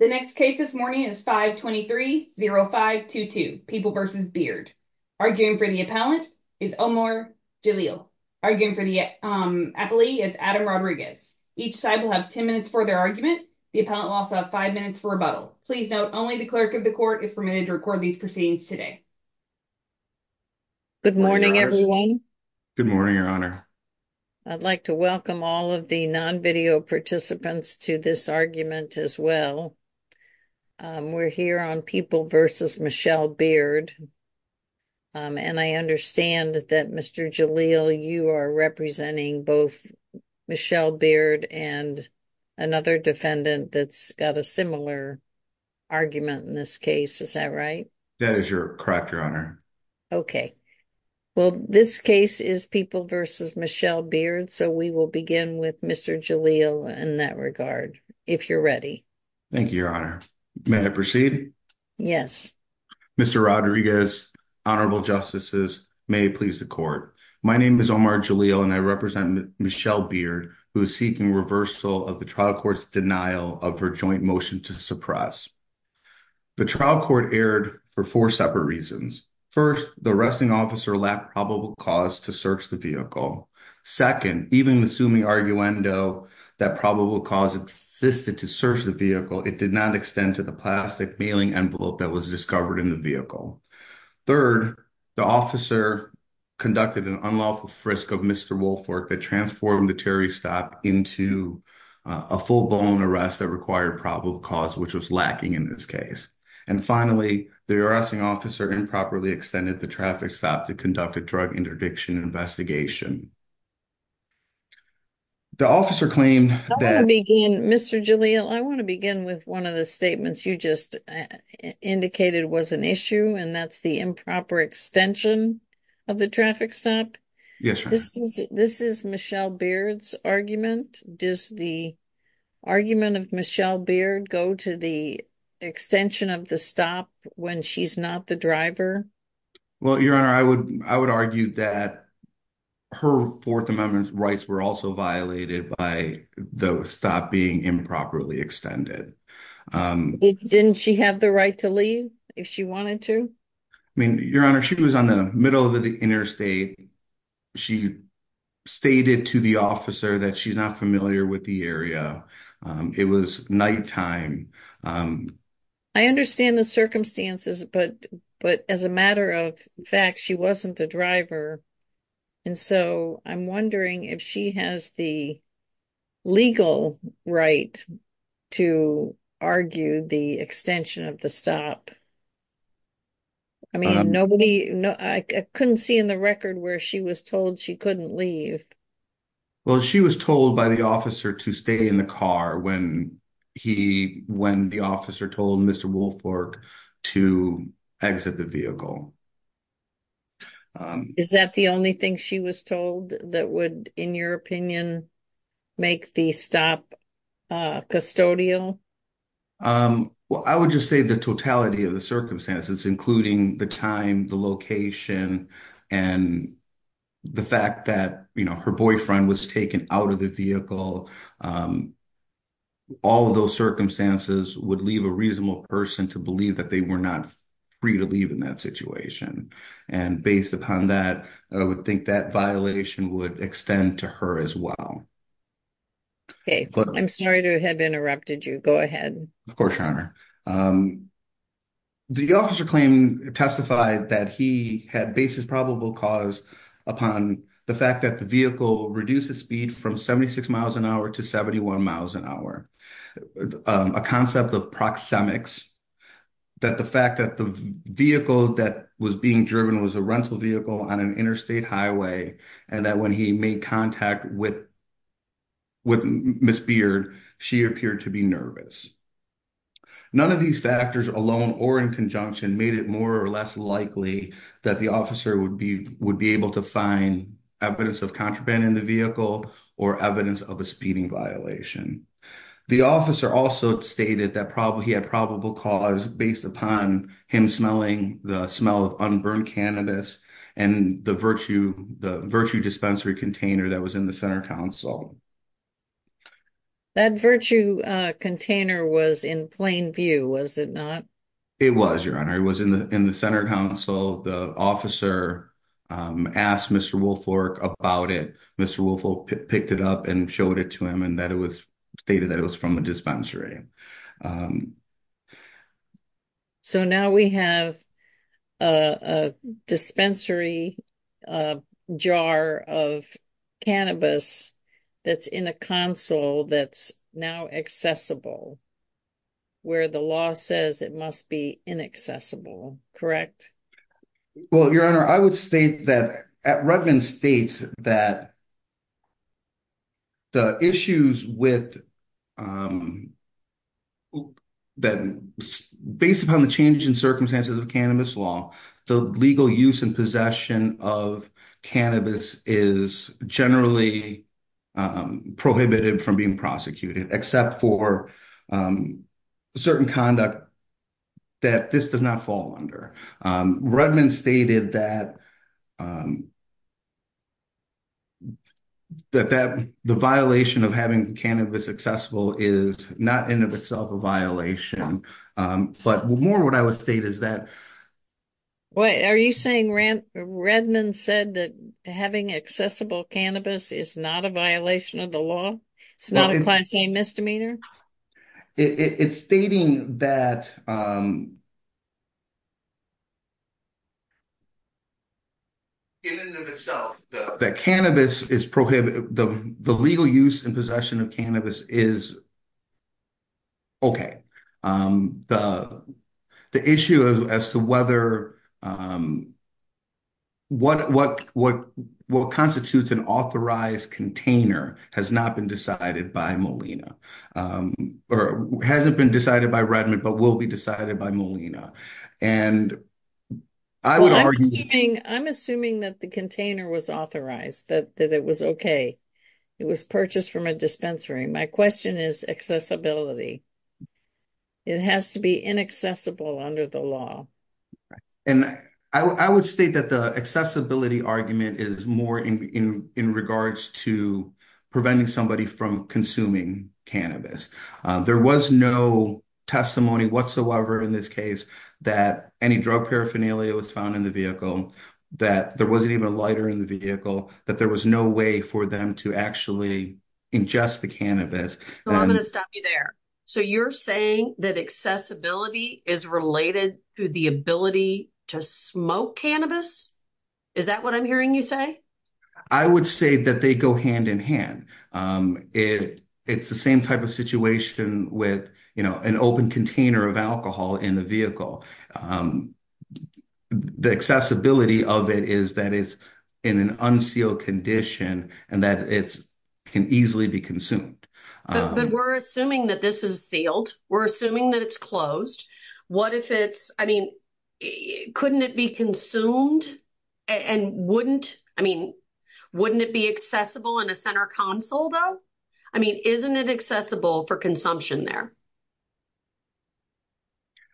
The next case this morning is 523-0522, People v. Beard. Arguing for the appellant is Omar Jalil. Arguing for the appellee is Adam Rodriguez. Each side will have 10 minutes for their argument. The appellant will also have five minutes for rebuttal. Please note, only the clerk of the court is permitted to record these proceedings today. Good morning, everyone. Good morning, Your Honor. I'd like to welcome all of the non-video participants to this argument as well. We're here on People v. Michelle Beard, and I understand that Mr. Jalil, you are representing both Michelle Beard and another defendant that's got a similar argument in this case. Is that right? That is correct, Your Honor. Okay. Well, this case is People v. Michelle Beard, so we will begin with Mr. Jalil in that regard, if you're ready. Thank you, Your Honor. May I proceed? Yes. Mr. Rodriguez, Honorable Justices, may it please the court. My name is Omar Jalil, and I represent Michelle Beard, who is seeking reversal of the trial court's denial of her joint motion to suppress. The trial court erred for four separate reasons. First, the arresting officer lacked probable cause to search the vehicle. Second, even assuming arguendo that probable cause existed to search the vehicle, it did not extend to the plastic mailing envelope that was discovered in the vehicle. Third, the officer conducted an unlawful frisk of Mr. Woolfolk that transformed the Terry stop into a full-blown arrest that required probable cause, which was lacking in this case. And finally, the arresting officer improperly extended the traffic stop to conduct a drug interdiction investigation. The officer claimed that- I want to begin, Mr. Jalil, I want to begin with one of the statements you just indicated was an issue, and that's the improper extension of the traffic stop. Yes, Your Honor. This is Michelle Beard's argument. Does the argument of Michelle Beard go to the extension of the stop when she's not the driver? Well, Your Honor, I would argue that her Fourth Amendment rights were also violated by the stop being improperly extended. Didn't she have the right to leave if she wanted to? I mean, Your Honor, she was in the middle of the interstate. She stated to the officer that she's not familiar with the area. It was nighttime. I understand the circumstances, but as a matter of fact, she wasn't the driver. And so I'm wondering if she has the legal right to argue the extension of the stop. I mean, nobody- I couldn't see in the record where she was told she couldn't leave. Well, she was told by the officer to stay in the car when the officer told Mr. Woolfolk to exit the vehicle. Is that the only thing she was told that would, in your opinion, make the stop custodial? Well, I would just say the totality of the circumstances, including the time, the location, and the fact that her boyfriend was taken out of the vehicle, all of those circumstances would leave a reasonable person to believe that they were not free to leave in that situation. And based upon that, I would think that violation would extend to her as well. Okay. I'm sorry to have interrupted you. Go ahead. Of course, Your Honor. The officer claimed- testified that he had basis probable cause upon the fact that the vehicle reduced the speed from 76 miles an hour to 71 miles an hour. A concept of proxemics, that the fact that the vehicle that was being driven was a rental vehicle on an interstate highway, and that when he made contact with Ms. Beard, she appeared to be nervous. None of these factors alone or in conjunction made it more or less likely that the officer would be- would be able to find evidence of contraband in the vehicle or evidence of a speeding violation. The officer also stated that probably he had probable cause based upon him smelling the smell of unburned cannabis and the virtue- the virtue dispensary container that was in the center council. That virtue container was in plain view, was it not? It was, Your Honor. It was in the- in the center council. The officer asked Mr. Woolfolk about it. Mr. Woolfolk picked it up and showed it to him and that it was- stated that it was from a dispensary. So, now we have a dispensary jar of cannabis that's in a council that's now accessible, where the law says it must be inaccessible, correct? Well, Your Honor, I would state that- Redmond states that the issues with cannabis- that based upon the changing circumstances of cannabis law, the legal use and possession of cannabis is generally prohibited from being prosecuted, except for certain conduct that this does not fall under. Redmond stated that that the violation of having cannabis accessible is not in and of itself a violation, but more what I would state is that- Well, are you saying Redmond said that having accessible cannabis is not a violation of the law? It's not a class-A misdemeanor? It's stating that in and of itself, that cannabis is prohibited- the legal use and possession of cannabis is okay. The issue as to whether- what constitutes an authorized container has not been decided by Molina, or hasn't been decided by Redmond, but will be decided by Molina. And I would argue- Well, I'm assuming that the container was authorized, that it was okay. It was purchased from a dispensary. My question is accessibility. It has to be inaccessible under the law. And I would state that the accessibility argument is more in regards to preventing somebody from consuming cannabis. There was no testimony whatsoever in this case that any drug paraphernalia was found in the vehicle, that there wasn't even a lighter in the vehicle, that there was no way for them to actually ingest the cannabis. I'm going to stop you there. So you're saying that accessibility is related to the ability to smoke cannabis? Is that what I'm hearing you say? I would say that they go hand in hand. It's the same type of situation with an open container of alcohol in the vehicle. The accessibility of it is that it's in an unsealed condition, and that it can easily be consumed. But we're assuming that this is sealed. We're assuming that it's closed. What if it's- I mean, couldn't it be consumed? And wouldn't- I mean, wouldn't it be accessible in a center console though? I mean, isn't it accessible for consumption there?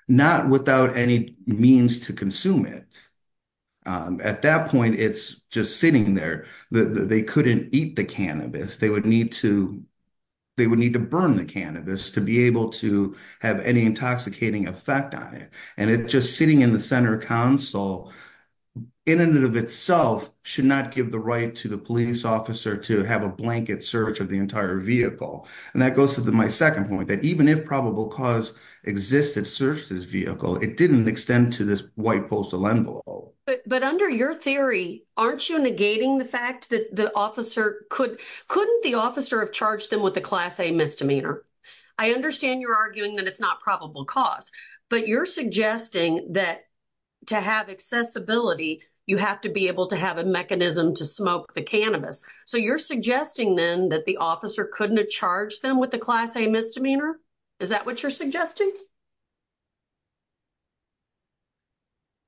Not without any means to consume it. At that point, it's just sitting there. They couldn't eat the cannabis. They would need to burn the cannabis to be able to have any intoxicating effect on it. And just sitting in the center console, in and of itself, should not give the right to the police officer to have a blanket search of the entire vehicle. And that goes to my second point, that even if probable cause existed to search this vehicle, it didn't extend to this white postal envelope. But under your theory, aren't you negating the fact that the officer could- couldn't the officer have charged them with a Class A misdemeanor? I understand you're arguing that it's not probable cause, but you're suggesting that to have accessibility, you have to be able to have a mechanism to smoke the cannabis. So you're suggesting then that the officer couldn't have charged them with a Class A misdemeanor? Is that what you're suggesting?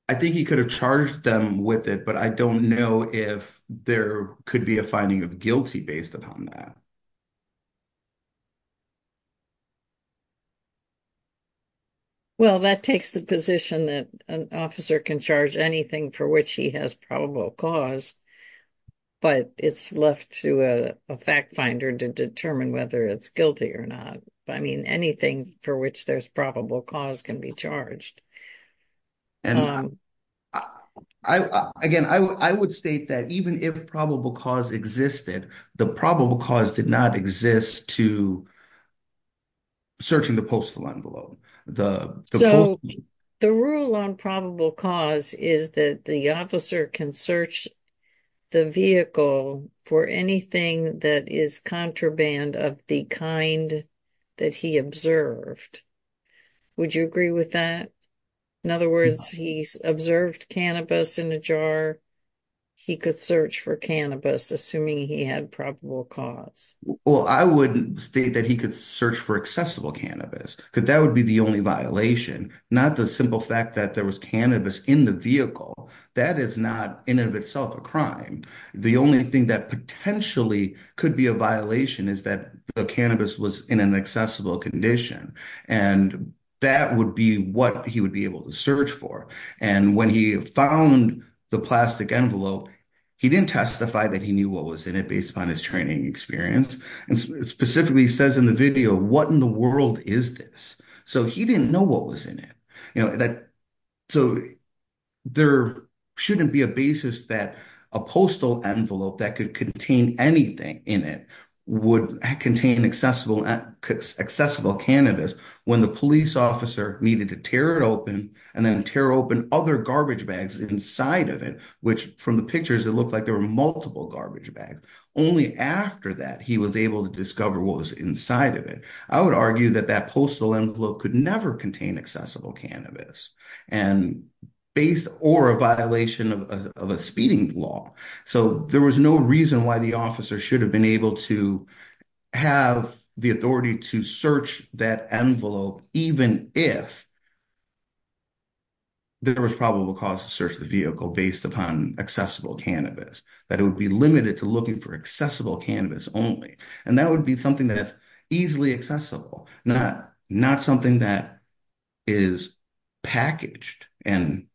I think he could have charged them with it, but I don't know if there could be a finding of guilty based upon that. Well, that takes the position that an officer can charge anything for which he has probable cause, but it's left to a fact finder to determine whether it's guilty or not. I mean, anything for which there's probable cause can be charged. Again, I would state that even if probable cause existed, the probable cause did not exist to searching the postal envelope. So the rule on probable cause is that the officer can search the vehicle for anything that is contraband of the kind that he observed. Would you agree with that? In other words, he observed cannabis in a jar. He could search for cannabis, assuming he had probable cause. Well, I wouldn't state that he could search for accessible cannabis because that would be the only violation, not the simple fact that there was cannabis in the vehicle. That is not in and of itself a crime. The only thing that potentially could be a violation is that the cannabis was in an accessible condition, and that would be what he would be able to search for. And when he found the plastic envelope, he didn't testify that he knew what was in it based upon his training experience, and specifically says in the video, what in the world is this? So he didn't know what was in it. So there shouldn't be a basis that a postal envelope that could contain anything in it would contain accessible cannabis when the police officer needed to tear it open, and then tear open other garbage bags inside of it, which from the pictures, it looked like there were multiple garbage bags. Only after that, he was able to discover what was inside of it. I would argue that that postal envelope could never contain accessible cannabis, based or a violation of a speeding law. So there was no reason why the officer should have been able to have the authority to search that envelope, even if there was probable cause to search the vehicle based upon accessible cannabis, that it would be limited to looking for accessible cannabis only. And that would be something that's easily accessible, not something that is packaged and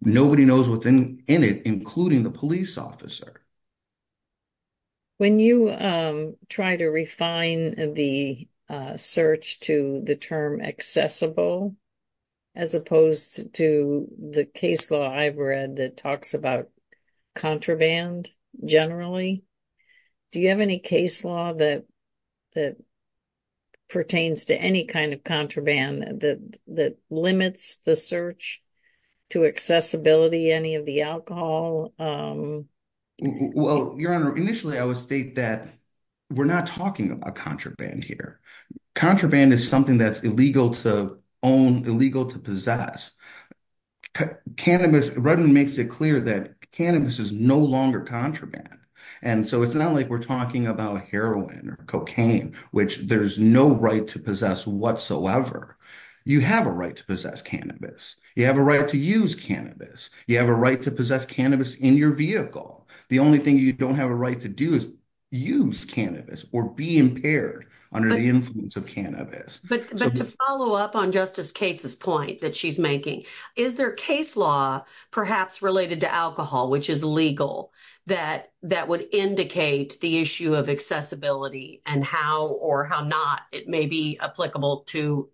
nobody knows what's in it, including the police officer. When you try to refine the search to the term accessible, as opposed to the case law I've read that talks about contraband, generally, do you have any case law that pertains to any kind of Well, Your Honor, initially, I would state that we're not talking about contraband here. Contraband is something that's illegal to own, illegal to possess. Cannabis, Rudman makes it clear that cannabis is no longer contraband. And so it's not like we're talking about heroin or cocaine, which there's no right to possess whatsoever. You have a right to possess cannabis. You have a right to use cannabis. You have a right to use cannabis or be impaired under the influence of cannabis. But to follow up on Justice Cates' point that she's making, is there case law perhaps related to alcohol, which is legal, that would indicate the issue of accessibility and how or how not it may be applicable to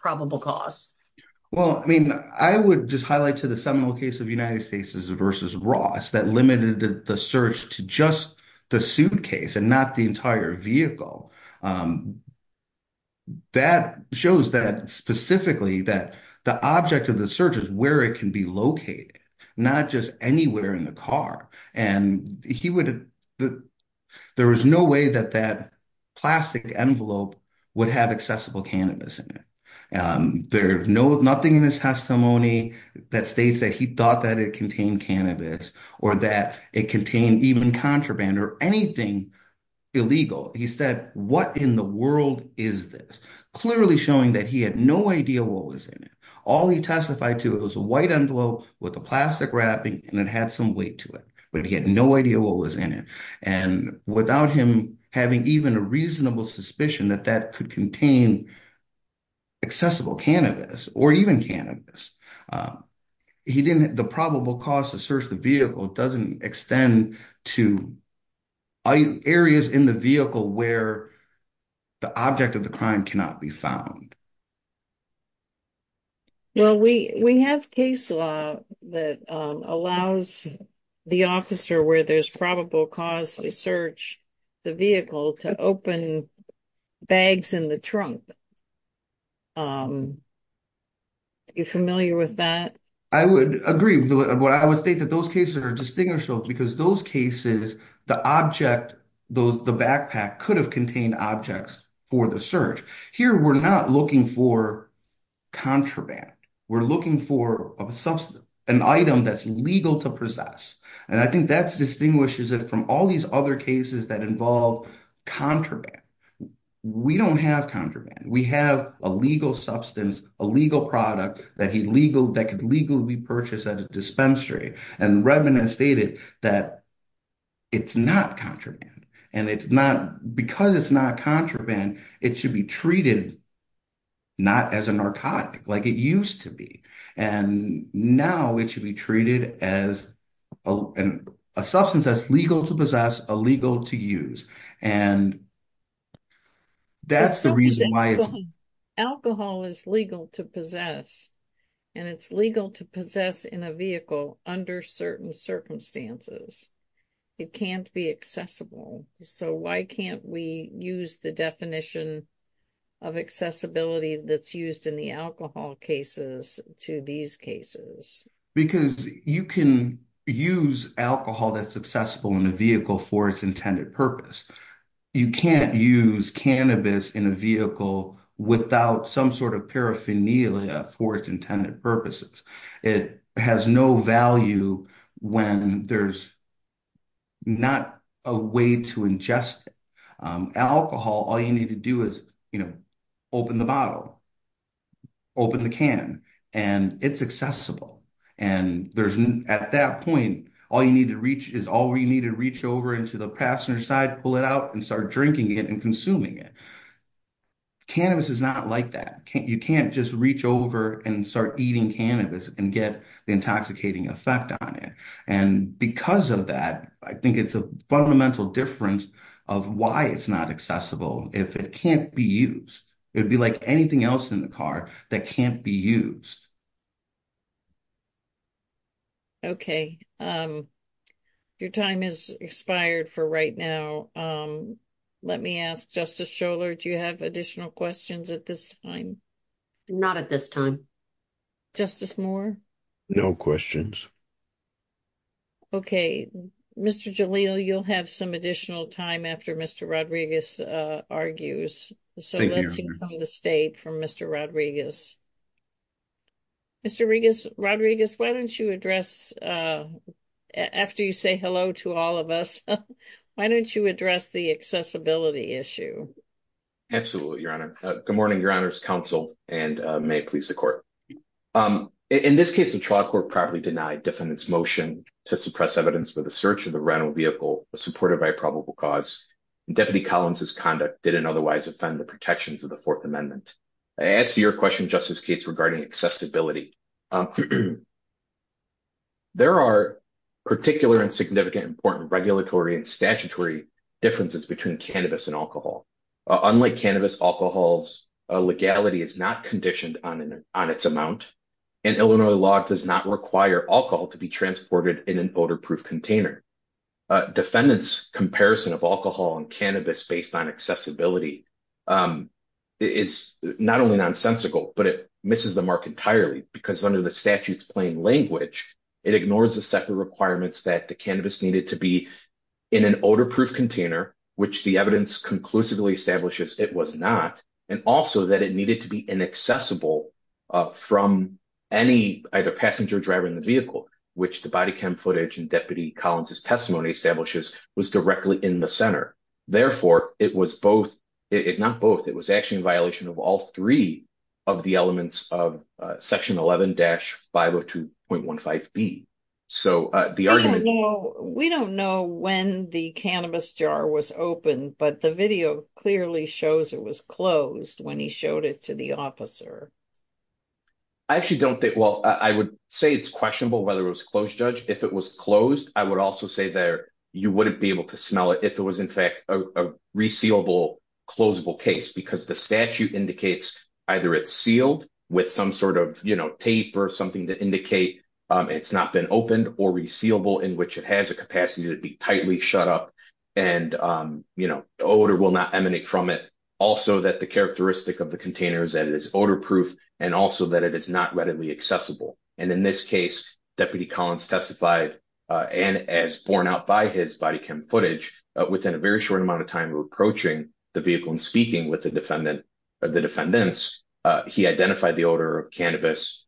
probable cause? Well, I mean, I would just highlight to Seminole case of United States v. Ross that limited the search to just the suitcase and not the entire vehicle. That shows that specifically that the object of the search is where it can be located, not just anywhere in the car. And there was no way that that plastic envelope would have accessible cannabis in it. There's nothing in his testimony that states that he thought that it contained cannabis or that it contained even contraband or anything illegal. He said, what in the world is this? Clearly showing that he had no idea what was in it. All he testified to, it was a white envelope with a plastic wrapping and it had some weight to it. But he had no idea what was in it. And without him having even a reasonable suspicion that that could contain accessible cannabis or even cannabis, the probable cause to search the vehicle doesn't extend to areas in the vehicle where the object of the crime cannot be found. Well, we have case law that allows the officer where there's probable cause to search the vehicle to open bags in the trunk. Are you familiar with that? I would agree. But I would think that those cases are distinguishable because those cases, the object, the backpack could have for contraband. We're looking for an item that's legal to possess. And I think that's distinguishes it from all these other cases that involve contraband. We don't have contraband. We have a legal substance, a legal product that could legally be purchased at a dispensary. And Redmond has stated that it's not contraband. And because it's not contraband, it should be treated not as a narcotic like it used to be. And now it should be treated as a substance that's legal to possess, illegal to use. And that's the reason why it's... Alcohol is legal to possess. And it's legal to possess in a vehicle under certain circumstances. It can't be accessible. So why can't we use the definition of accessibility that's used in the alcohol cases to these cases? Because you can use alcohol that's accessible in a vehicle for its intended purpose. You can't use cannabis in a vehicle without some sort of paraphernalia for its intended purposes. It has no value when there's not a way to ingest it. Alcohol, all you need to do is open the bottle, open the can, and it's accessible. And at that point, all you need to reach is all you need to reach over into the passenger side, pull it out, and start drinking it and consuming it. Cannabis is not like that. You can't just reach over and start eating cannabis and get the intoxicating effect on it. And because of that, I think it's a fundamental difference of why it's not accessible if it can't be used. It'd be like anything else in the car that can't be used. Okay. Your time has expired for right now. Let me ask Justice Scholar, do you have additional questions at this time? Not at this time. Justice Moore? No questions. Okay. Mr. Jalil, you'll have some additional time after Mr. Rodriguez argues. So let's hear from the state from Mr. Rodriguez. Mr. Rodriguez, why don't you address, after you say hello to all of us, why don't you address the accessibility issue? Absolutely, Your Honor. Good morning, Your Honor's counsel, and may it please the court. In this case, the trial court properly denied defendant's motion to suppress evidence for the search of the rental vehicle supported by probable cause. And Deputy Collins' conduct didn't otherwise offend the protections of the Fourth Amendment. I asked you your question, Justice Gates, regarding accessibility. There are particular and significant, important regulatory and statutory differences between cannabis and alcohol. Unlike cannabis, alcohol's legality is not conditioned on its amount, and Illinois law does not require alcohol to be transported in an odor-proof container. Defendant's comparison of alcohol and cannabis based on accessibility is not only nonsensical, but it misses the mark entirely, because under the statute's plain language, it ignores the separate requirements that the cannabis needed to be in an odor-proof container, which the evidence conclusively establishes it was not, and also that it needed to be inaccessible from any either passenger or driver in the vehicle, which the body cam footage and Deputy Collins' testimony establishes was directly in the center. Therefore, it was both, not both, it was actually in violation of all three of the elements of section 11-502.15b. So the argument- We don't know when the cannabis jar was opened, but the video clearly shows it was closed when he showed it to the officer. I actually don't think, well, I would say it's questionable whether it was closed, Judge. If it was closed, I would also say that you wouldn't be able to smell it if it was in fact a resealable, closeable case, because the statute indicates either it's sealed with some sort of tape or something to indicate it's not been opened or resealable in which it has a capacity to be tightly shut up and the odor will not emanate from it. Also that the characteristic of the container is that it is odor-proof and also that it is not readily accessible. And in this case, Deputy Collins testified, and as borne out by his body cam footage, within a very short amount of time of approaching the vehicle and speaking with the defendant or the defendants, he identified the odor of cannabis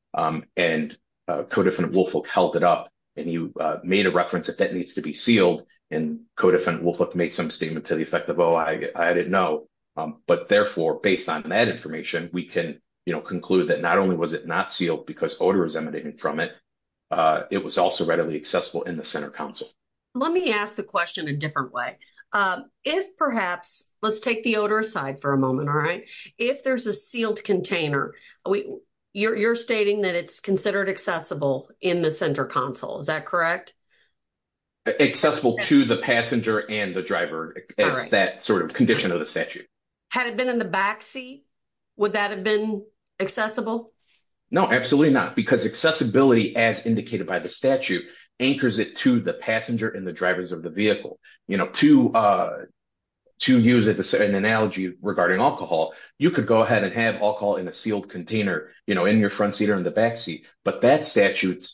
and Co-Defendant Woolfolk held it up and he made a reference that that needs to be sealed and Co-Defendant Woolfolk made some to the effect of, oh, I didn't know. But therefore, based on that information, we can, you know, conclude that not only was it not sealed because odor is emanating from it, it was also readily accessible in the center console. Let me ask the question a different way. If perhaps, let's take the odor aside for a moment, all right? If there's a sealed container, you're stating that it's considered accessible in the center console, is that correct? Accessible to the passenger and driver as that sort of condition of the statute. Had it been in the backseat, would that have been accessible? No, absolutely not. Because accessibility, as indicated by the statute, anchors it to the passenger and the drivers of the vehicle. You know, to use an analogy regarding alcohol, you could go ahead and have alcohol in a sealed container, you know, in your front seat or in the backseat, but that statute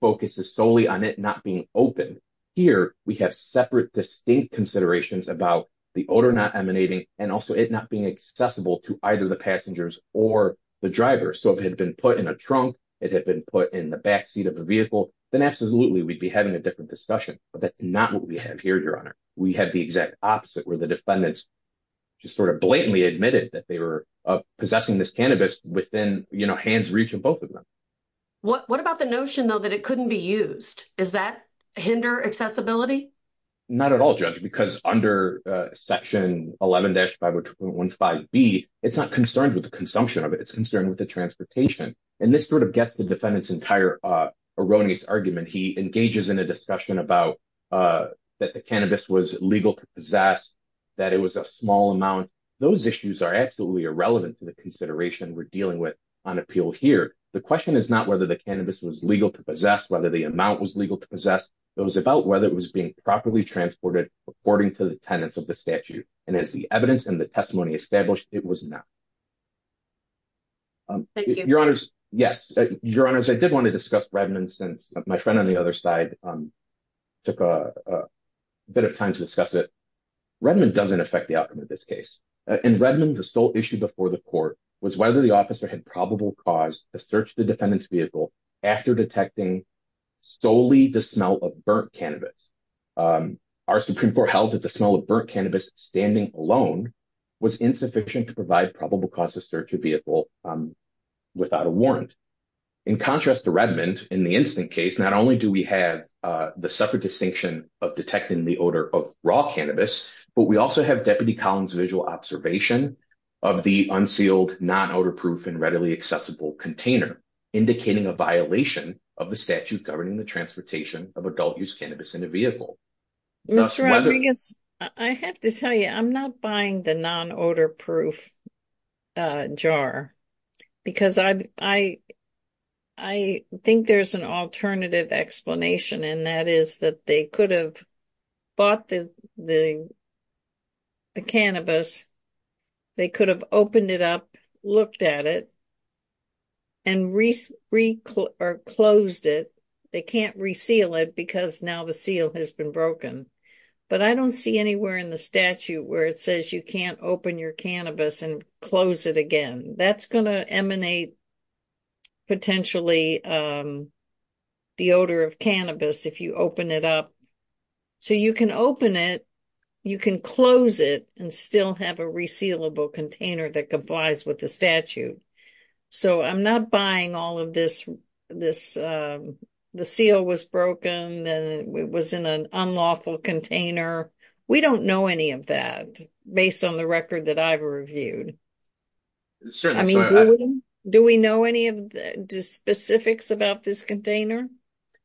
focuses solely on it not being open. Here, we have separate, distinct considerations about the odor not emanating and also it not being accessible to either the passengers or the driver. So if it had been put in a trunk, it had been put in the backseat of the vehicle, then absolutely we'd be having a different discussion. But that's not what we have here, Your Honor. We have the exact opposite where the defendants just sort of blatantly admitted that they were possessing this cannabis within, you know, hand's reach of both of What about the notion, though, that it couldn't be used? Does that hinder accessibility? Not at all, Judge, because under Section 11-502.15B, it's not concerned with the consumption of it, it's concerned with the transportation. And this sort of gets the defendant's entire erroneous argument. He engages in a discussion about that the cannabis was legal to possess, that it was a small amount. Those issues are absolutely irrelevant to the consideration we're dealing with on appeal here. The question is not whether the cannabis was legal to possess, whether the amount was legal to possess, it was about whether it was being properly transported according to the tenets of the statute. And as the evidence and the testimony established, it was not. Thank you. Your Honors, yes. Your Honors, I did want to discuss Redmond since my friend on the other side took a bit of time to discuss it. Redmond doesn't affect the outcome of this case. In Redmond, the sole issue before the court was whether the officer had probable cause to search the defendant's vehicle after detecting solely the smell of burnt cannabis. Our Supreme Court held that the smell of burnt cannabis standing alone was insufficient to provide probable cause to search a vehicle without a warrant. In contrast to Redmond, in the instant case, not only do we have the separate distinction of detecting the odor of raw cannabis, but we also have Deputy Collins' visual observation of the unsealed non-odor-proof and readily accessible container, indicating a violation of the statute governing the transportation of adult-use cannabis in a vehicle. Mr. Rodriguez, I have to tell you, I'm not buying the non-odor-proof jar because I think there's an alternative explanation, and that is that they could have bought the cannabis, they could have opened it up, looked at it, and closed it. They can't reseal it because now the seal has been broken. But I don't see anywhere in the statute where it says you can't open your cannabis and close it again. That's going to emanate potentially the odor of cannabis if you open it up. So you can open it, you can close it, and still have a resealable container that complies with the statute. So I'm not buying all of this, the seal was broken and it was in an unlawful container. We don't know any of that based on the record that I've reviewed. Do we know any of the specifics about this container?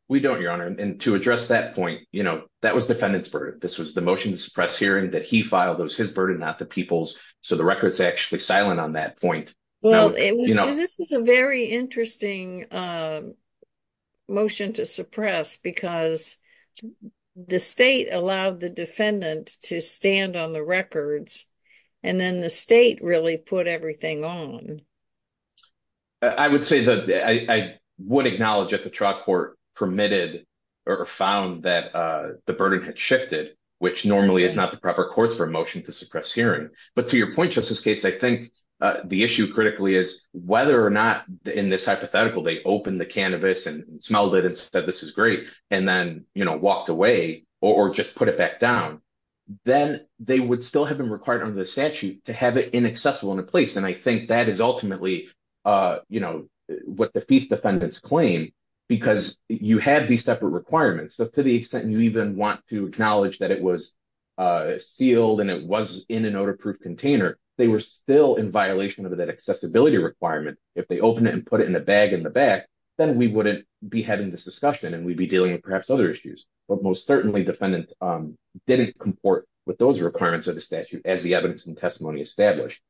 We don't, Your Honor, and to address that point, you know, that was the defendant's burden. This was the motion to suppress hearing that he filed, it was his burden, not the people's, so the record's actually silent on that point. Well, this was a very interesting motion to suppress because the state allowed the defendant to stand on the records, and then the state really put everything on. I would acknowledge that the trial court permitted or found that the burden had shifted, which normally is not the proper course for a motion to suppress hearing. But to your point, Justice Gates, I think the issue critically is whether or not, in this hypothetical, they opened the cannabis and smelled it and said, this is great, and then, you know, walked away or just put it back down, then they would still have been required under the statute to have it inaccessible in a place. And I think that is ultimately, you know, what defeats the defendant's claim, because you have these separate requirements. So to the extent you even want to acknowledge that it was sealed and it was in an odor-proof container, they were still in violation of that accessibility requirement. If they open it and put it in a bag in the back, then we wouldn't be having this discussion and we'd be dealing with perhaps other issues. But most certainly, defendant didn't comport with those requirements of the statute as the evidence and testimony established.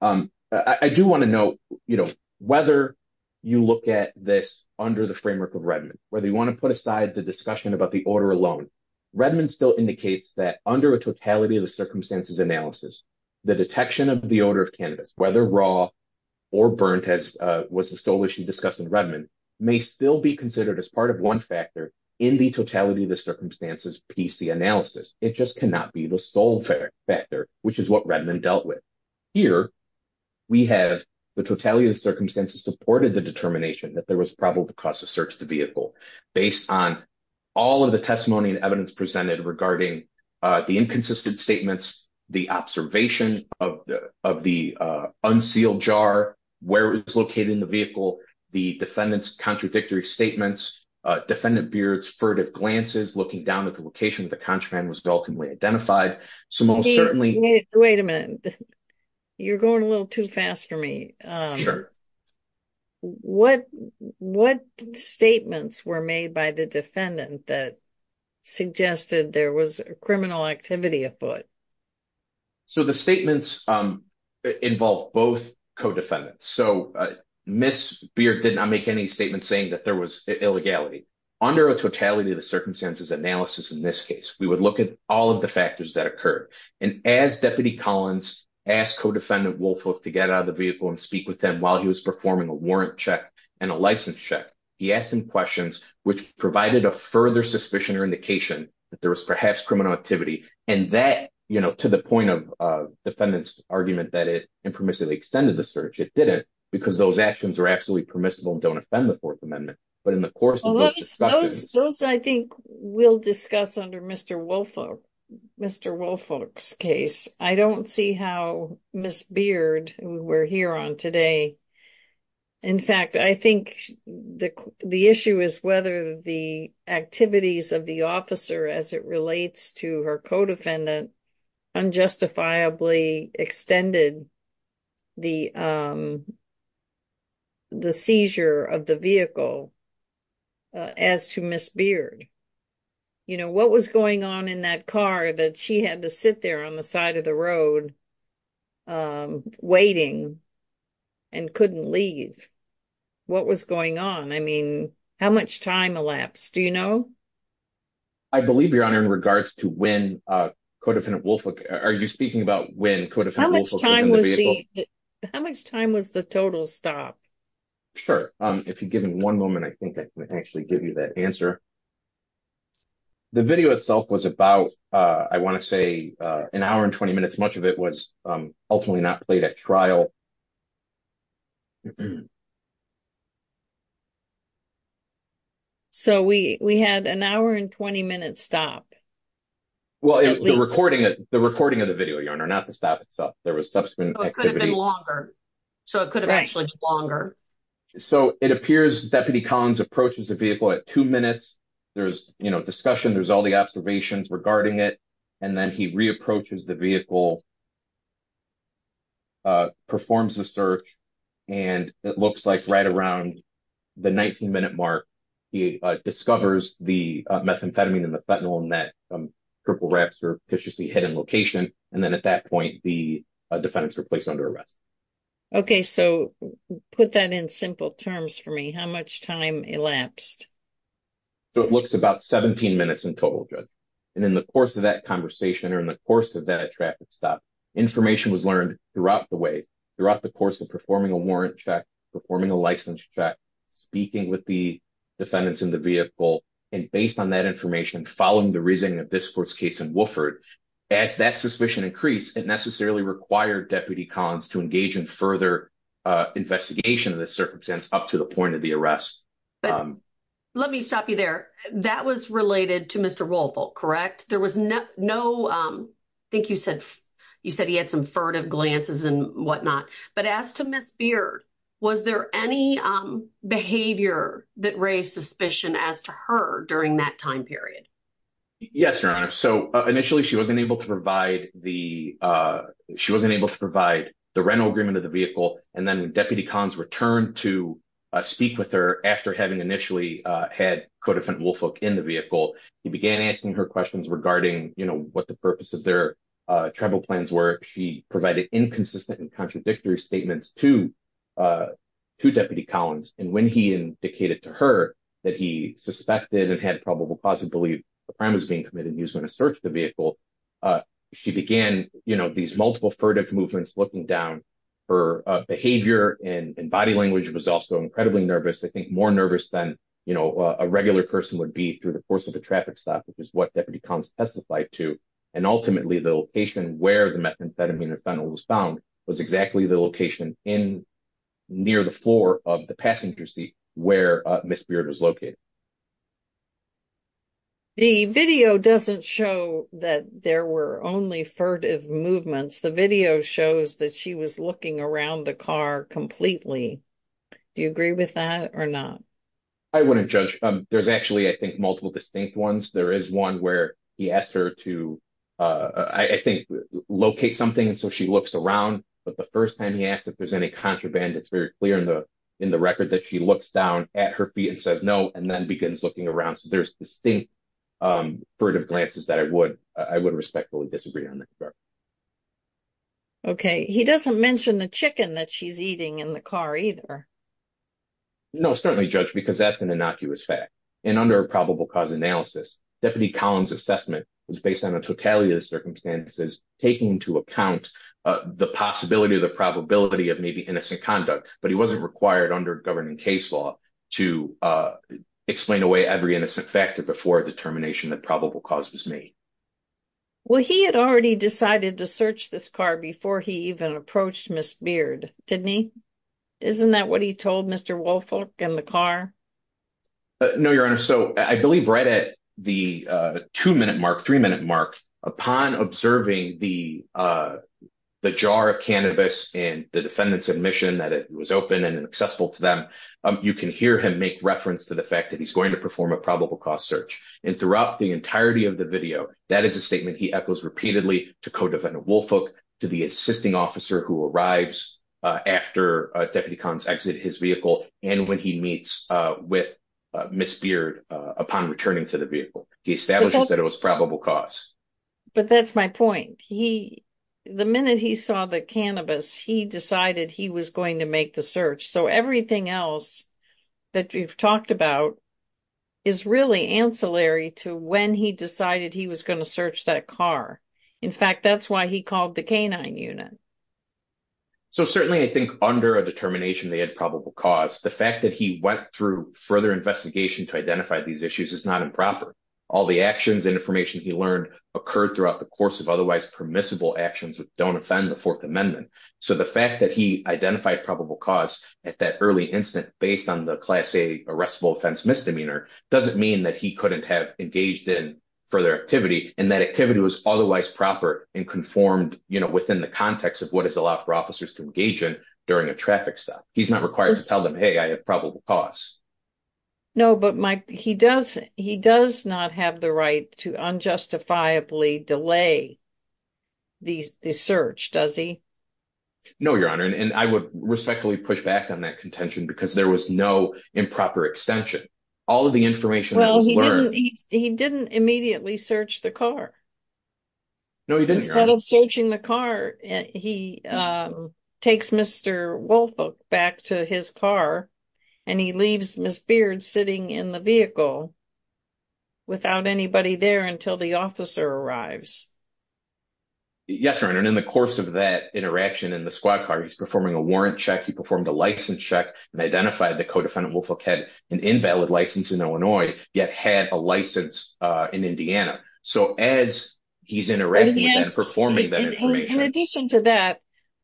I do want to note, you know, whether you look at this under the framework of Redmond, whether you want to put aside the discussion about the odor alone, Redmond still indicates that under a totality of the circumstances analysis, the detection of the odor of cannabis, whether raw or burnt as was the sole issue discussed in Redmond, may still be considered as part of one factor in the totality of the circumstances PC analysis. It just cannot be the sole factor, which is what Redmond dealt with. Here, we have the totality of the circumstances supported the determination that there was probable cause to search the vehicle based on all of the testimony and evidence presented regarding the inconsistent statements, the observation of the unsealed jar, where it was located in the vehicle, the defendant's contradictory statements, defendant Beard's furtive glances looking down at the location the contraband was ultimately identified. So most certainly... Wait a minute. You're going a little too fast for me. What statements were made by the defendant that suggested there was a criminal activity at foot? So the statements involved both co-defendants. So Ms. Beard did not make any statements saying that there was illegality. Under a totality of the circumstances analysis, in this case, we would look at all of the factors that occurred. And as Deputy Collins asked co-defendant Wolfhook to get out of the vehicle and speak with them while he was performing a warrant check and a license check, he asked him questions, which provided a further suspicion or that there was perhaps criminal activity. And that, to the point of defendant's argument that it impermissibly extended the search, it didn't because those actions are absolutely permissible and don't offend the Fourth Amendment. But in the course of those discussions... Those I think we'll discuss under Mr. Wolfhook's case. I don't see how Ms. Beard, who we're here on today... In fact, I think the issue is whether the activities of the officer as it relates to her co-defendant unjustifiably extended the seizure of the vehicle as to Ms. Beard. You know, what was going on in that car that she had to sit there on the side of the road waiting and couldn't leave? What was going on? I mean, how much time elapsed? Do you know? I believe, Your Honor, in regards to when co-defendant Wolfhook... Are you speaking about when co-defendant Wolfhook was in the vehicle? How much time was the total stop? Sure. If you give me one moment, I think I can actually give you that answer. The video itself was about, I want to say, an hour and 20 minutes. Much of it was ultimately not played at trial. So we had an hour and 20 minute stop. Well, the recording of the video, Your Honor, not the stop itself. There was subsequent activity. So it could have been longer. So it could have actually been longer. So it appears Deputy Collins approaches the vehicle at two minutes. There's, you know, discussion. There's all the observations regarding it. And then he re-approaches the vehicle, performs the search. And it looks like right around the 19 minute mark, he discovers the methamphetamine and the fentanyl in that purple wrap surreptitiously hidden location. And then at that point, the defendants were placed under arrest. Okay. So put that in simple terms for me. How much time elapsed? So it looks about 17 minutes in total, Judge. And in the course of that conversation or in the course of that traffic stop, information was learned throughout the way, throughout the course of performing a warrant check, performing a license check, speaking with the defendants in the vehicle. And based on that information, following the reasoning of this court's case in As that suspicion increased, it necessarily required Deputy Collins to engage in further investigation of this circumstance up to the point of the arrest. Let me stop you there. That was related to Mr. Woolfolk, correct? There was no, I think you said, you said he had some furtive glances and whatnot. But as to Ms. Beard, was there any behavior that raised suspicion as to her during that time period? Yes, Your Honor. So initially she wasn't able to provide the, she wasn't able to provide the rental agreement of the vehicle. And then when Deputy Collins returned to speak with her after having initially had Codefendant Woolfolk in the vehicle, he began asking her questions regarding what the purpose of their travel plans were. She provided inconsistent and contradictory statements to Deputy Collins. And when he indicated to her that he suspected and had probable cause to believe a crime was being committed, he was going to search the vehicle. She began, you know, these multiple furtive movements, looking down. Her behavior and body language was also incredibly nervous. I think more nervous than, you know, a regular person would be through the course of a traffic stop, which is what Deputy Collins testified to. And ultimately the location where the methamphetamine and phenol was found was exactly the location in, near the floor of the passenger seat where Ms. Beard was located. The video doesn't show that there were only furtive movements. The video shows that she was looking around the car completely. Do you agree with that or not? I wouldn't judge. There's actually, I think, multiple distinct ones. There is one where he asked her to, I think, locate something. And so she looks around, but the first time he asked if there's any contraband, it's very clear in the record that she looks down at her feet and then begins looking around. So there's distinct furtive glances that I would respectfully disagree on that part. Okay. He doesn't mention the chicken that she's eating in the car either. No, certainly judge, because that's an innocuous fact. And under a probable cause analysis, Deputy Collins' assessment was based on a totality of the circumstances, taking into account the possibility of the probability of maybe innocent conduct, but he wasn't required under governing case law to explain away every innocent factor before determination that probable cause was made. Well, he had already decided to search this car before he even approached Ms. Beard, didn't he? Isn't that what he told Mr. Woolfolk and the car? No, Your Honor. So I believe right at the two-minute mark, three-minute mark, upon observing the jar of cannabis and the defendant's admission that it was open and accessible to them, you can hear him make reference to the fact that he's going to perform a probable cause search. And throughout the entirety of the video, that is a statement he echoes repeatedly to co-defendant Woolfolk, to the assisting officer who arrives after Deputy Collins exit his vehicle, and when he meets with Ms. Beard upon returning to the vehicle. He establishes that it was probable cause. But that's my point. The minute he saw the cannabis, he decided he was going to make the search. So everything else that we've talked about is really ancillary to when he decided he was going to search that car. In fact, that's why he called the K-9 unit. So certainly I think under a determination they had probable cause, the fact that he went through further investigation to identify these issues is not improper. All the actions and information he learned occurred throughout the course of otherwise permissible actions that don't offend the Fourth Amendment. So the fact that he identified probable cause at that early instant, based on the Class A arrestable offense misdemeanor, doesn't mean that he couldn't have engaged in further activity. And that activity was otherwise proper and conformed within the context of what is allowed for officers to engage in during a traffic stop. He's not required to tell them, hey, I have probable cause. No, but he does not have the right to unjustifiably delay the search, does he? No, Your Honor. And I would respectfully push back on that contention because there was no improper extension. All of the information that was learned- He didn't immediately search the car. No, he didn't, Your Honor. Instead of searching the car, he takes Mr. Woolfolk back to his car and he leaves Ms. Beard sitting in the vehicle without anybody there until the officer arrives. Yes, Your Honor. And in the course of that interaction in the squad car, he's performing a warrant check. He performed a license check and identified that co-defendant Woolfolk had an invalid license in Illinois, yet had a license in Indiana. So as he's interacting- In addition to that,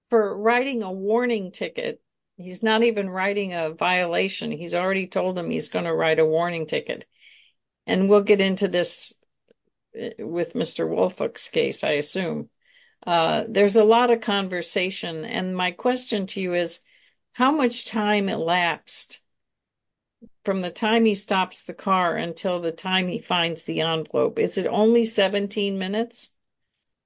for writing a warning ticket, he's not even writing a violation. He's already told them he's going to write a warning ticket. And we'll get into this with Mr. Woolfolk's case, I assume. There's a lot of conversation. And my question to you is, how much time elapsed from the time he stops the car until the time he finds the envelope? Is it only 17 minutes?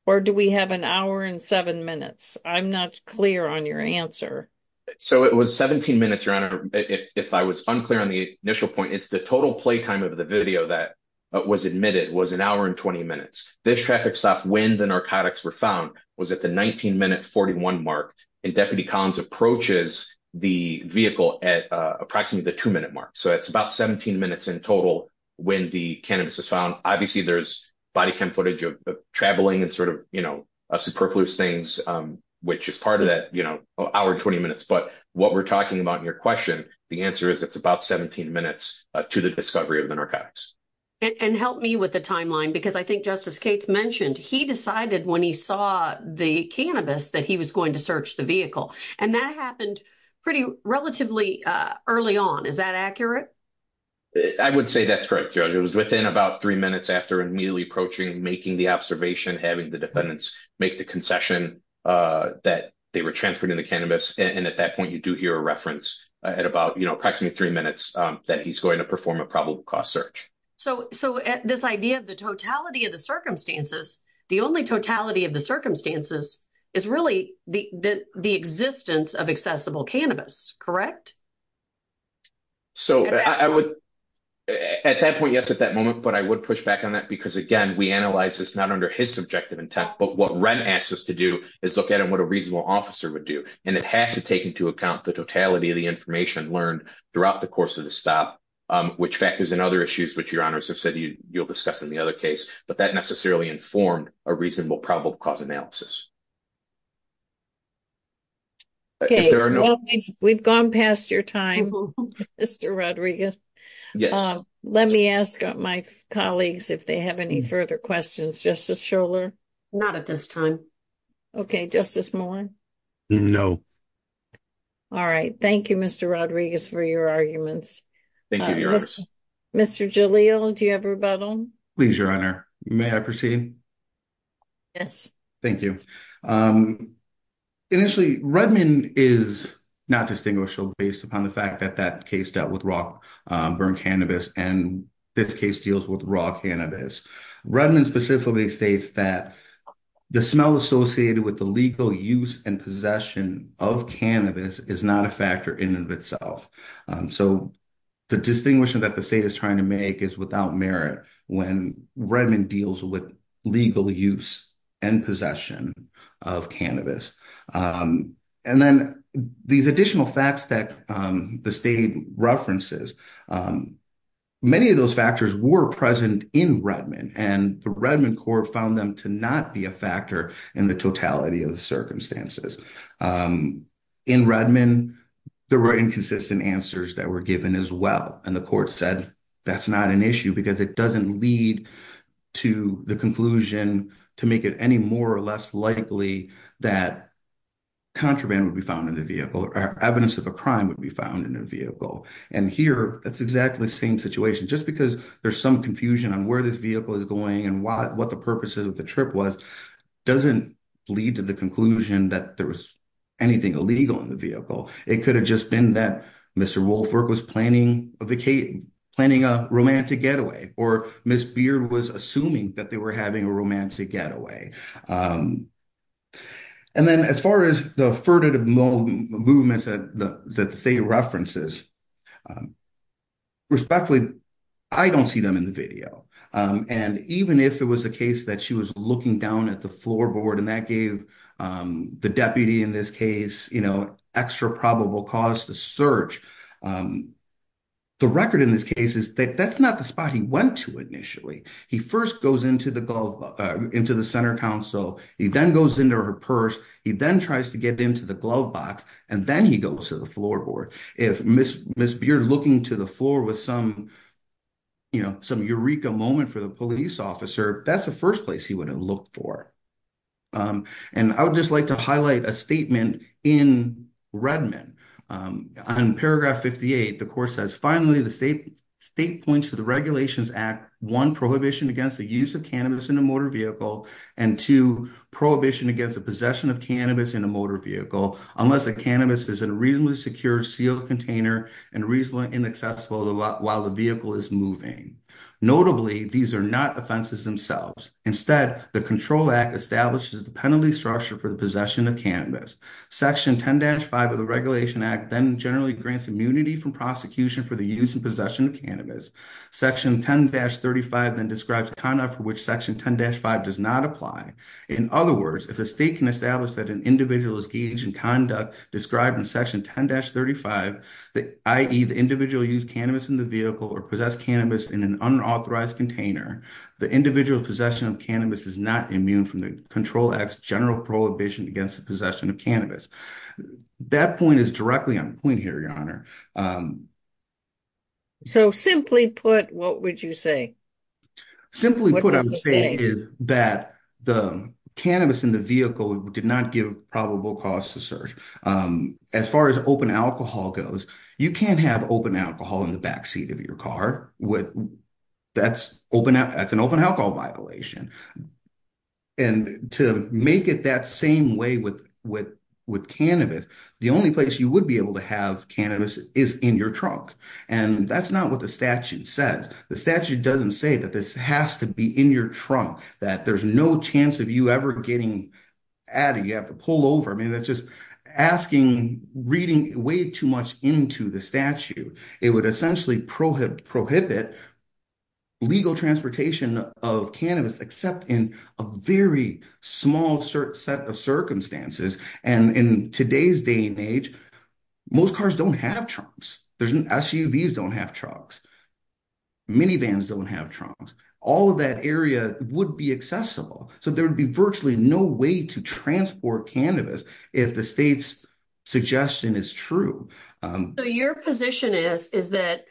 Or do we have an hour and seven minutes? I'm not clear on your answer. So it was 17 minutes, Your Honor. If I was unclear on the initial point, it's the total play time of the video that was admitted was an hour and 20 minutes. This traffic stop, when the narcotics were found, was at the 19 minute 41 mark. And Deputy Collins approaches the vehicle at approximately the two minute mark. So it's about 17 minutes in total when the cannabis is found. Obviously there's body cam footage of traveling and sort of superfluous things, which is part of that hour and 20 minutes. But what we're talking about in your question, the answer is it's about 17 minutes to the discovery of the narcotics. And help me with the timeline, because I think Justice Cates mentioned he decided when he saw the cannabis that he was going to search the vehicle. And that happened relatively early on. Is that accurate? I would say that's correct, Your Honor. It was within about three minutes after immediately approaching, making the observation, having the defendants make the concession that they were transferring the cannabis. And at that point, you do hear a reference at about approximately three minutes that he's going to perform a probable cause search. So this idea of the totality of the circumstances, the only totality of the circumstances is really the existence of accessible cannabis, correct? So at that point, yes, at that moment, but I would push back on that because again, we analyze this not under his subjective intent, but what Wren asked us to do is look at what a reasonable officer would do. And it has to take into account the totality of the information learned throughout the course of the stop, which factors in other issues, which Your Honors have said you'll discuss in the other case, but that necessarily informed a reasonable probable cause analysis. Okay. We've gone past your time, Mr. Rodriguez. Yes. Let me ask my colleagues if they have any further questions. Justice Schorler? Not at this time. Okay. Justice Moore? No. All right. Thank you, Mr. Rodriguez for your arguments. Thank you, Your Honor. Mr. Jalil, do you have a rebuttal? Please, Your Honor. May I proceed? Yes. Thank you. Initially, Redmond is not distinguishable based upon the fact that that case dealt with raw burn cannabis and this case deals with raw cannabis. Redmond specifically states that the smell associated with the legal use and possession of cannabis is not a factor in and of itself. So the distinguishing that the state is trying to make is without merit when Redmond deals with legal use and possession of cannabis. And then these additional facts that the state references, many of those factors were present in Redmond and the Redmond court found them to not be a factor in the totality of the circumstances. In Redmond, there were inconsistent answers that were given as well. And the court said that's not an issue because it doesn't lead to the conclusion to make it any more or less likely that contraband would be found in the vehicle or evidence of a crime would be found in a vehicle. And here, it's exactly the same situation. Just because there's some confusion on where this vehicle is going and what the purpose of the trip was doesn't lead to the conclusion that there was anything illegal in the vehicle. It could have just been that Mr. Woolford was planning a romantic getaway or Ms. Beard was assuming that they were having a romantic getaway. And then as far as the furtive movements that the state references, respectfully, I don't see them in the video. And even if it was the case that was looking down at the floorboard and that gave the deputy in this case extra probable cause to search, the record in this case is that that's not the spot he went to initially. He first goes into the center council. He then goes into her purse. He then tries to get into the glove box and then he goes to the floorboard. If Ms. Beard looking to the floor with some some eureka moment for the police officer, that's the first place he would have looked for. And I would just like to highlight a statement in Redmond. On paragraph 58, the court says, finally, the state points to the Regulations Act, one, prohibition against the use of cannabis in a motor vehicle, and two, prohibition against the possession of cannabis in a motor vehicle unless the cannabis is in a reasonably secure sealed container and reasonably inaccessible while the vehicle is moving. Notably, these are not offenses themselves. Instead, the Control Act establishes the penalty structure for the possession of cannabis. Section 10-5 of the Regulation Act then generally grants immunity from prosecution for the use and possession of cannabis. Section 10-35 then describes conduct for which Section 10-5 does not apply. In other words, if a state can establish that an individual is gauged in conduct described in Section 10-35, i.e. the individual used cannabis in the vehicle or possessed cannabis in an unauthorized container, the individual's possession of cannabis is not immune from the Control Act's general prohibition against the possession of cannabis. That point is directly on point here, Your Honor. So simply put, what would you say? Simply put, I would say that the cannabis in the vehicle did not give probable cause to search. As far as open alcohol goes, you can't have open alcohol in the backseat of your car. That's an open alcohol violation. And to make it that same way with cannabis, the only place you would be able to have cannabis is in your trunk. And that's not what the statute says. The statute doesn't say that this has to be in your trunk, that there's no chance of you ever getting out. You have to pull over. I mean, that's just asking, reading way too much into the statute. It would essentially prohibit legal transportation of cannabis except in a very small set of circumstances. And in today's day and age, most cars don't have trunks. SUVs don't have trunks. Minivans don't have trunks. All of that area would be accessible. So there would be virtually no way to transport cannabis if the state's suggestion is true. So your position is that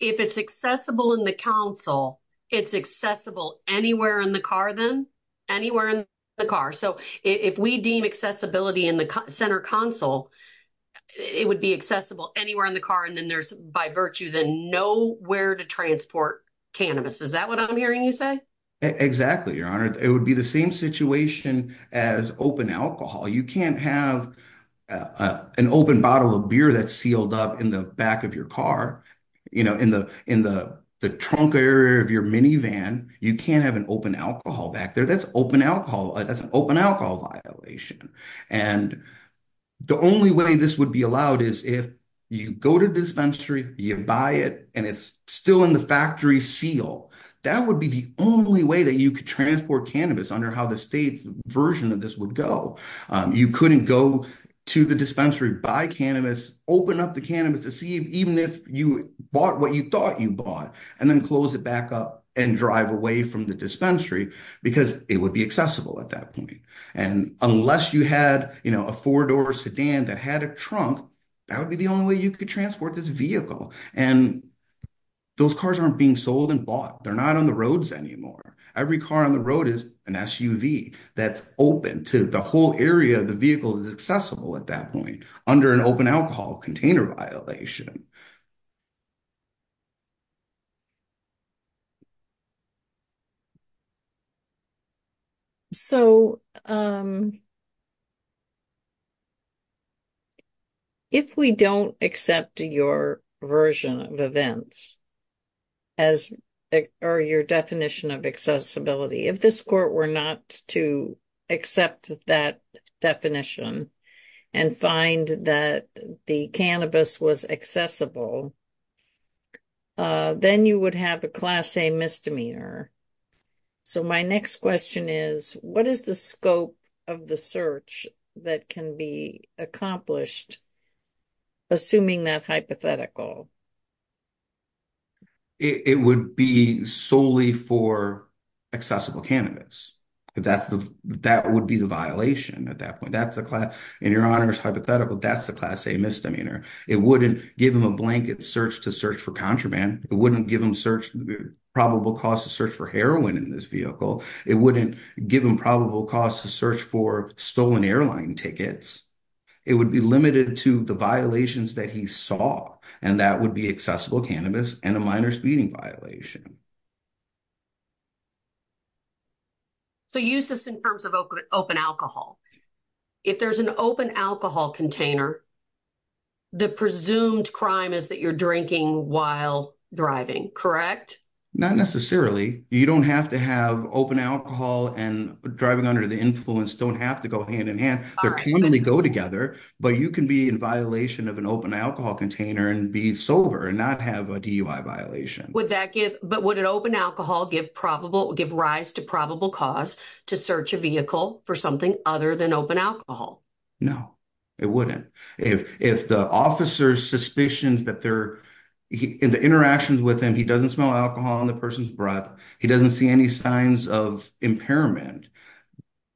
if it's accessible in the council, it's accessible anywhere in the car then? Anywhere in the car. So if we deem accessibility in the center council, it would be accessible anywhere in the car and then there's by virtue then where to transport cannabis. Is that what I'm hearing you say? Exactly, Your Honor. It would be the same situation as open alcohol. You can't have an open bottle of beer that's sealed up in the back of your car, in the trunk area of your minivan. You can't have an open alcohol back there. That's an open alcohol violation. And the only way this would be allowed is if you go to dispensary, you buy it and it's still in the factory seal. That would be the only way that you could transport cannabis under how the state's version of this would go. You couldn't go to the dispensary, buy cannabis, open up the cannabis to see even if you bought what you thought you bought and then close it back up and drive away from the dispensary because it would be accessible at that point. And unless you had a four-door sedan that had a trunk, that would be the only way you could transport this vehicle. And those cars aren't being sold and bought. They're not on the roads anymore. Every car on the road is an SUV that's open to the whole area of the vehicle that's accessible at that point under an open alcohol container violation. So, if we don't accept your version of events or your definition of accessibility, if this court were not to accept that definition and find that the cannabis was accessible, then you would have a Class A misdemeanor. So, my next question is, what is the scope of the search that can be accomplished, assuming that hypothetical? It would be solely for accessible cannabis. That would be the violation at that point. In your honor's hypothetical, that's the Class A misdemeanor. It wouldn't give him a blanket search to search for contraband. It wouldn't give him probable cause to search for heroin in this vehicle. It wouldn't give him probable cause to search for stolen airline tickets. It would be limited to the violations that he saw, and that would be accessible cannabis and a minor speeding violation. So, use this in terms of open alcohol. If there's an open alcohol container, the presumed crime is that you're drinking while driving, correct? Not necessarily. You don't have to have open alcohol and driving under the influence don't have to go hand in hand. They can only go together, but you can be in violation of an open alcohol container and be sober and not have a DUI violation. But would an open alcohol give rise to probable cause to search a vehicle for something other than open alcohol? No, it wouldn't. If the officer's suspicions and the interactions with him, he doesn't smell alcohol on the person's breath, he doesn't see any signs of impairment,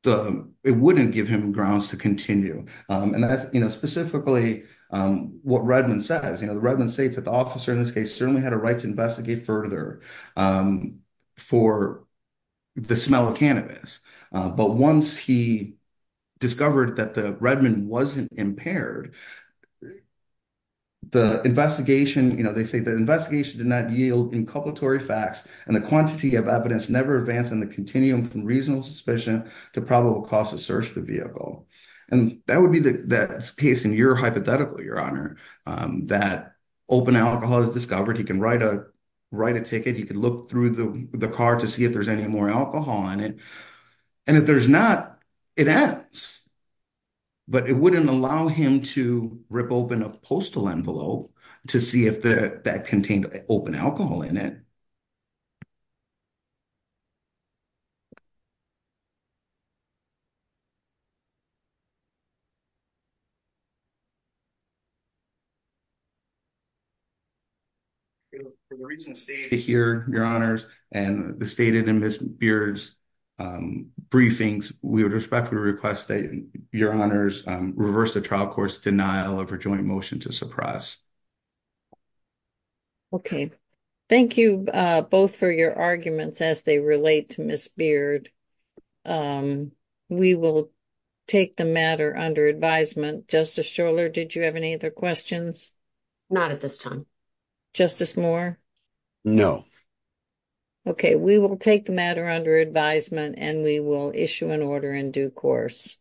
it wouldn't give him grounds to continue. And that's specifically what Redmond says. The Redmond states that the officer in this case certainly had a right to investigate further for the smell of cannabis. But once he discovered that the Redmond wasn't impaired, they say the investigation did not yield inculpatory facts and the quantity of evidence never advanced in the continuum from reasonable suspicion to probable cause to search the vehicle. And that would be the case in your hypothetical, Your Honor, that open alcohol is discovered. He can write a ticket, he can look through the car to see if there's any more alcohol in it. And if there's not, it ends. But it wouldn't allow him to rip open a postal envelope to see if that contained open alcohol in it. For the reason stated here, Your Honors, and the stated in Ms. Beard's briefings, we would respectfully request that Your Honors reverse the trial court's denial of her joint motion to suppress. Okay, thank you both for your arguments as they relate to Ms. Beard. We will take the matter under advisement. Justice Schorler, did you have any other questions? Not at this time. Justice Moore? No. Okay, we will take the matter under advisement and we will issue an order in due course.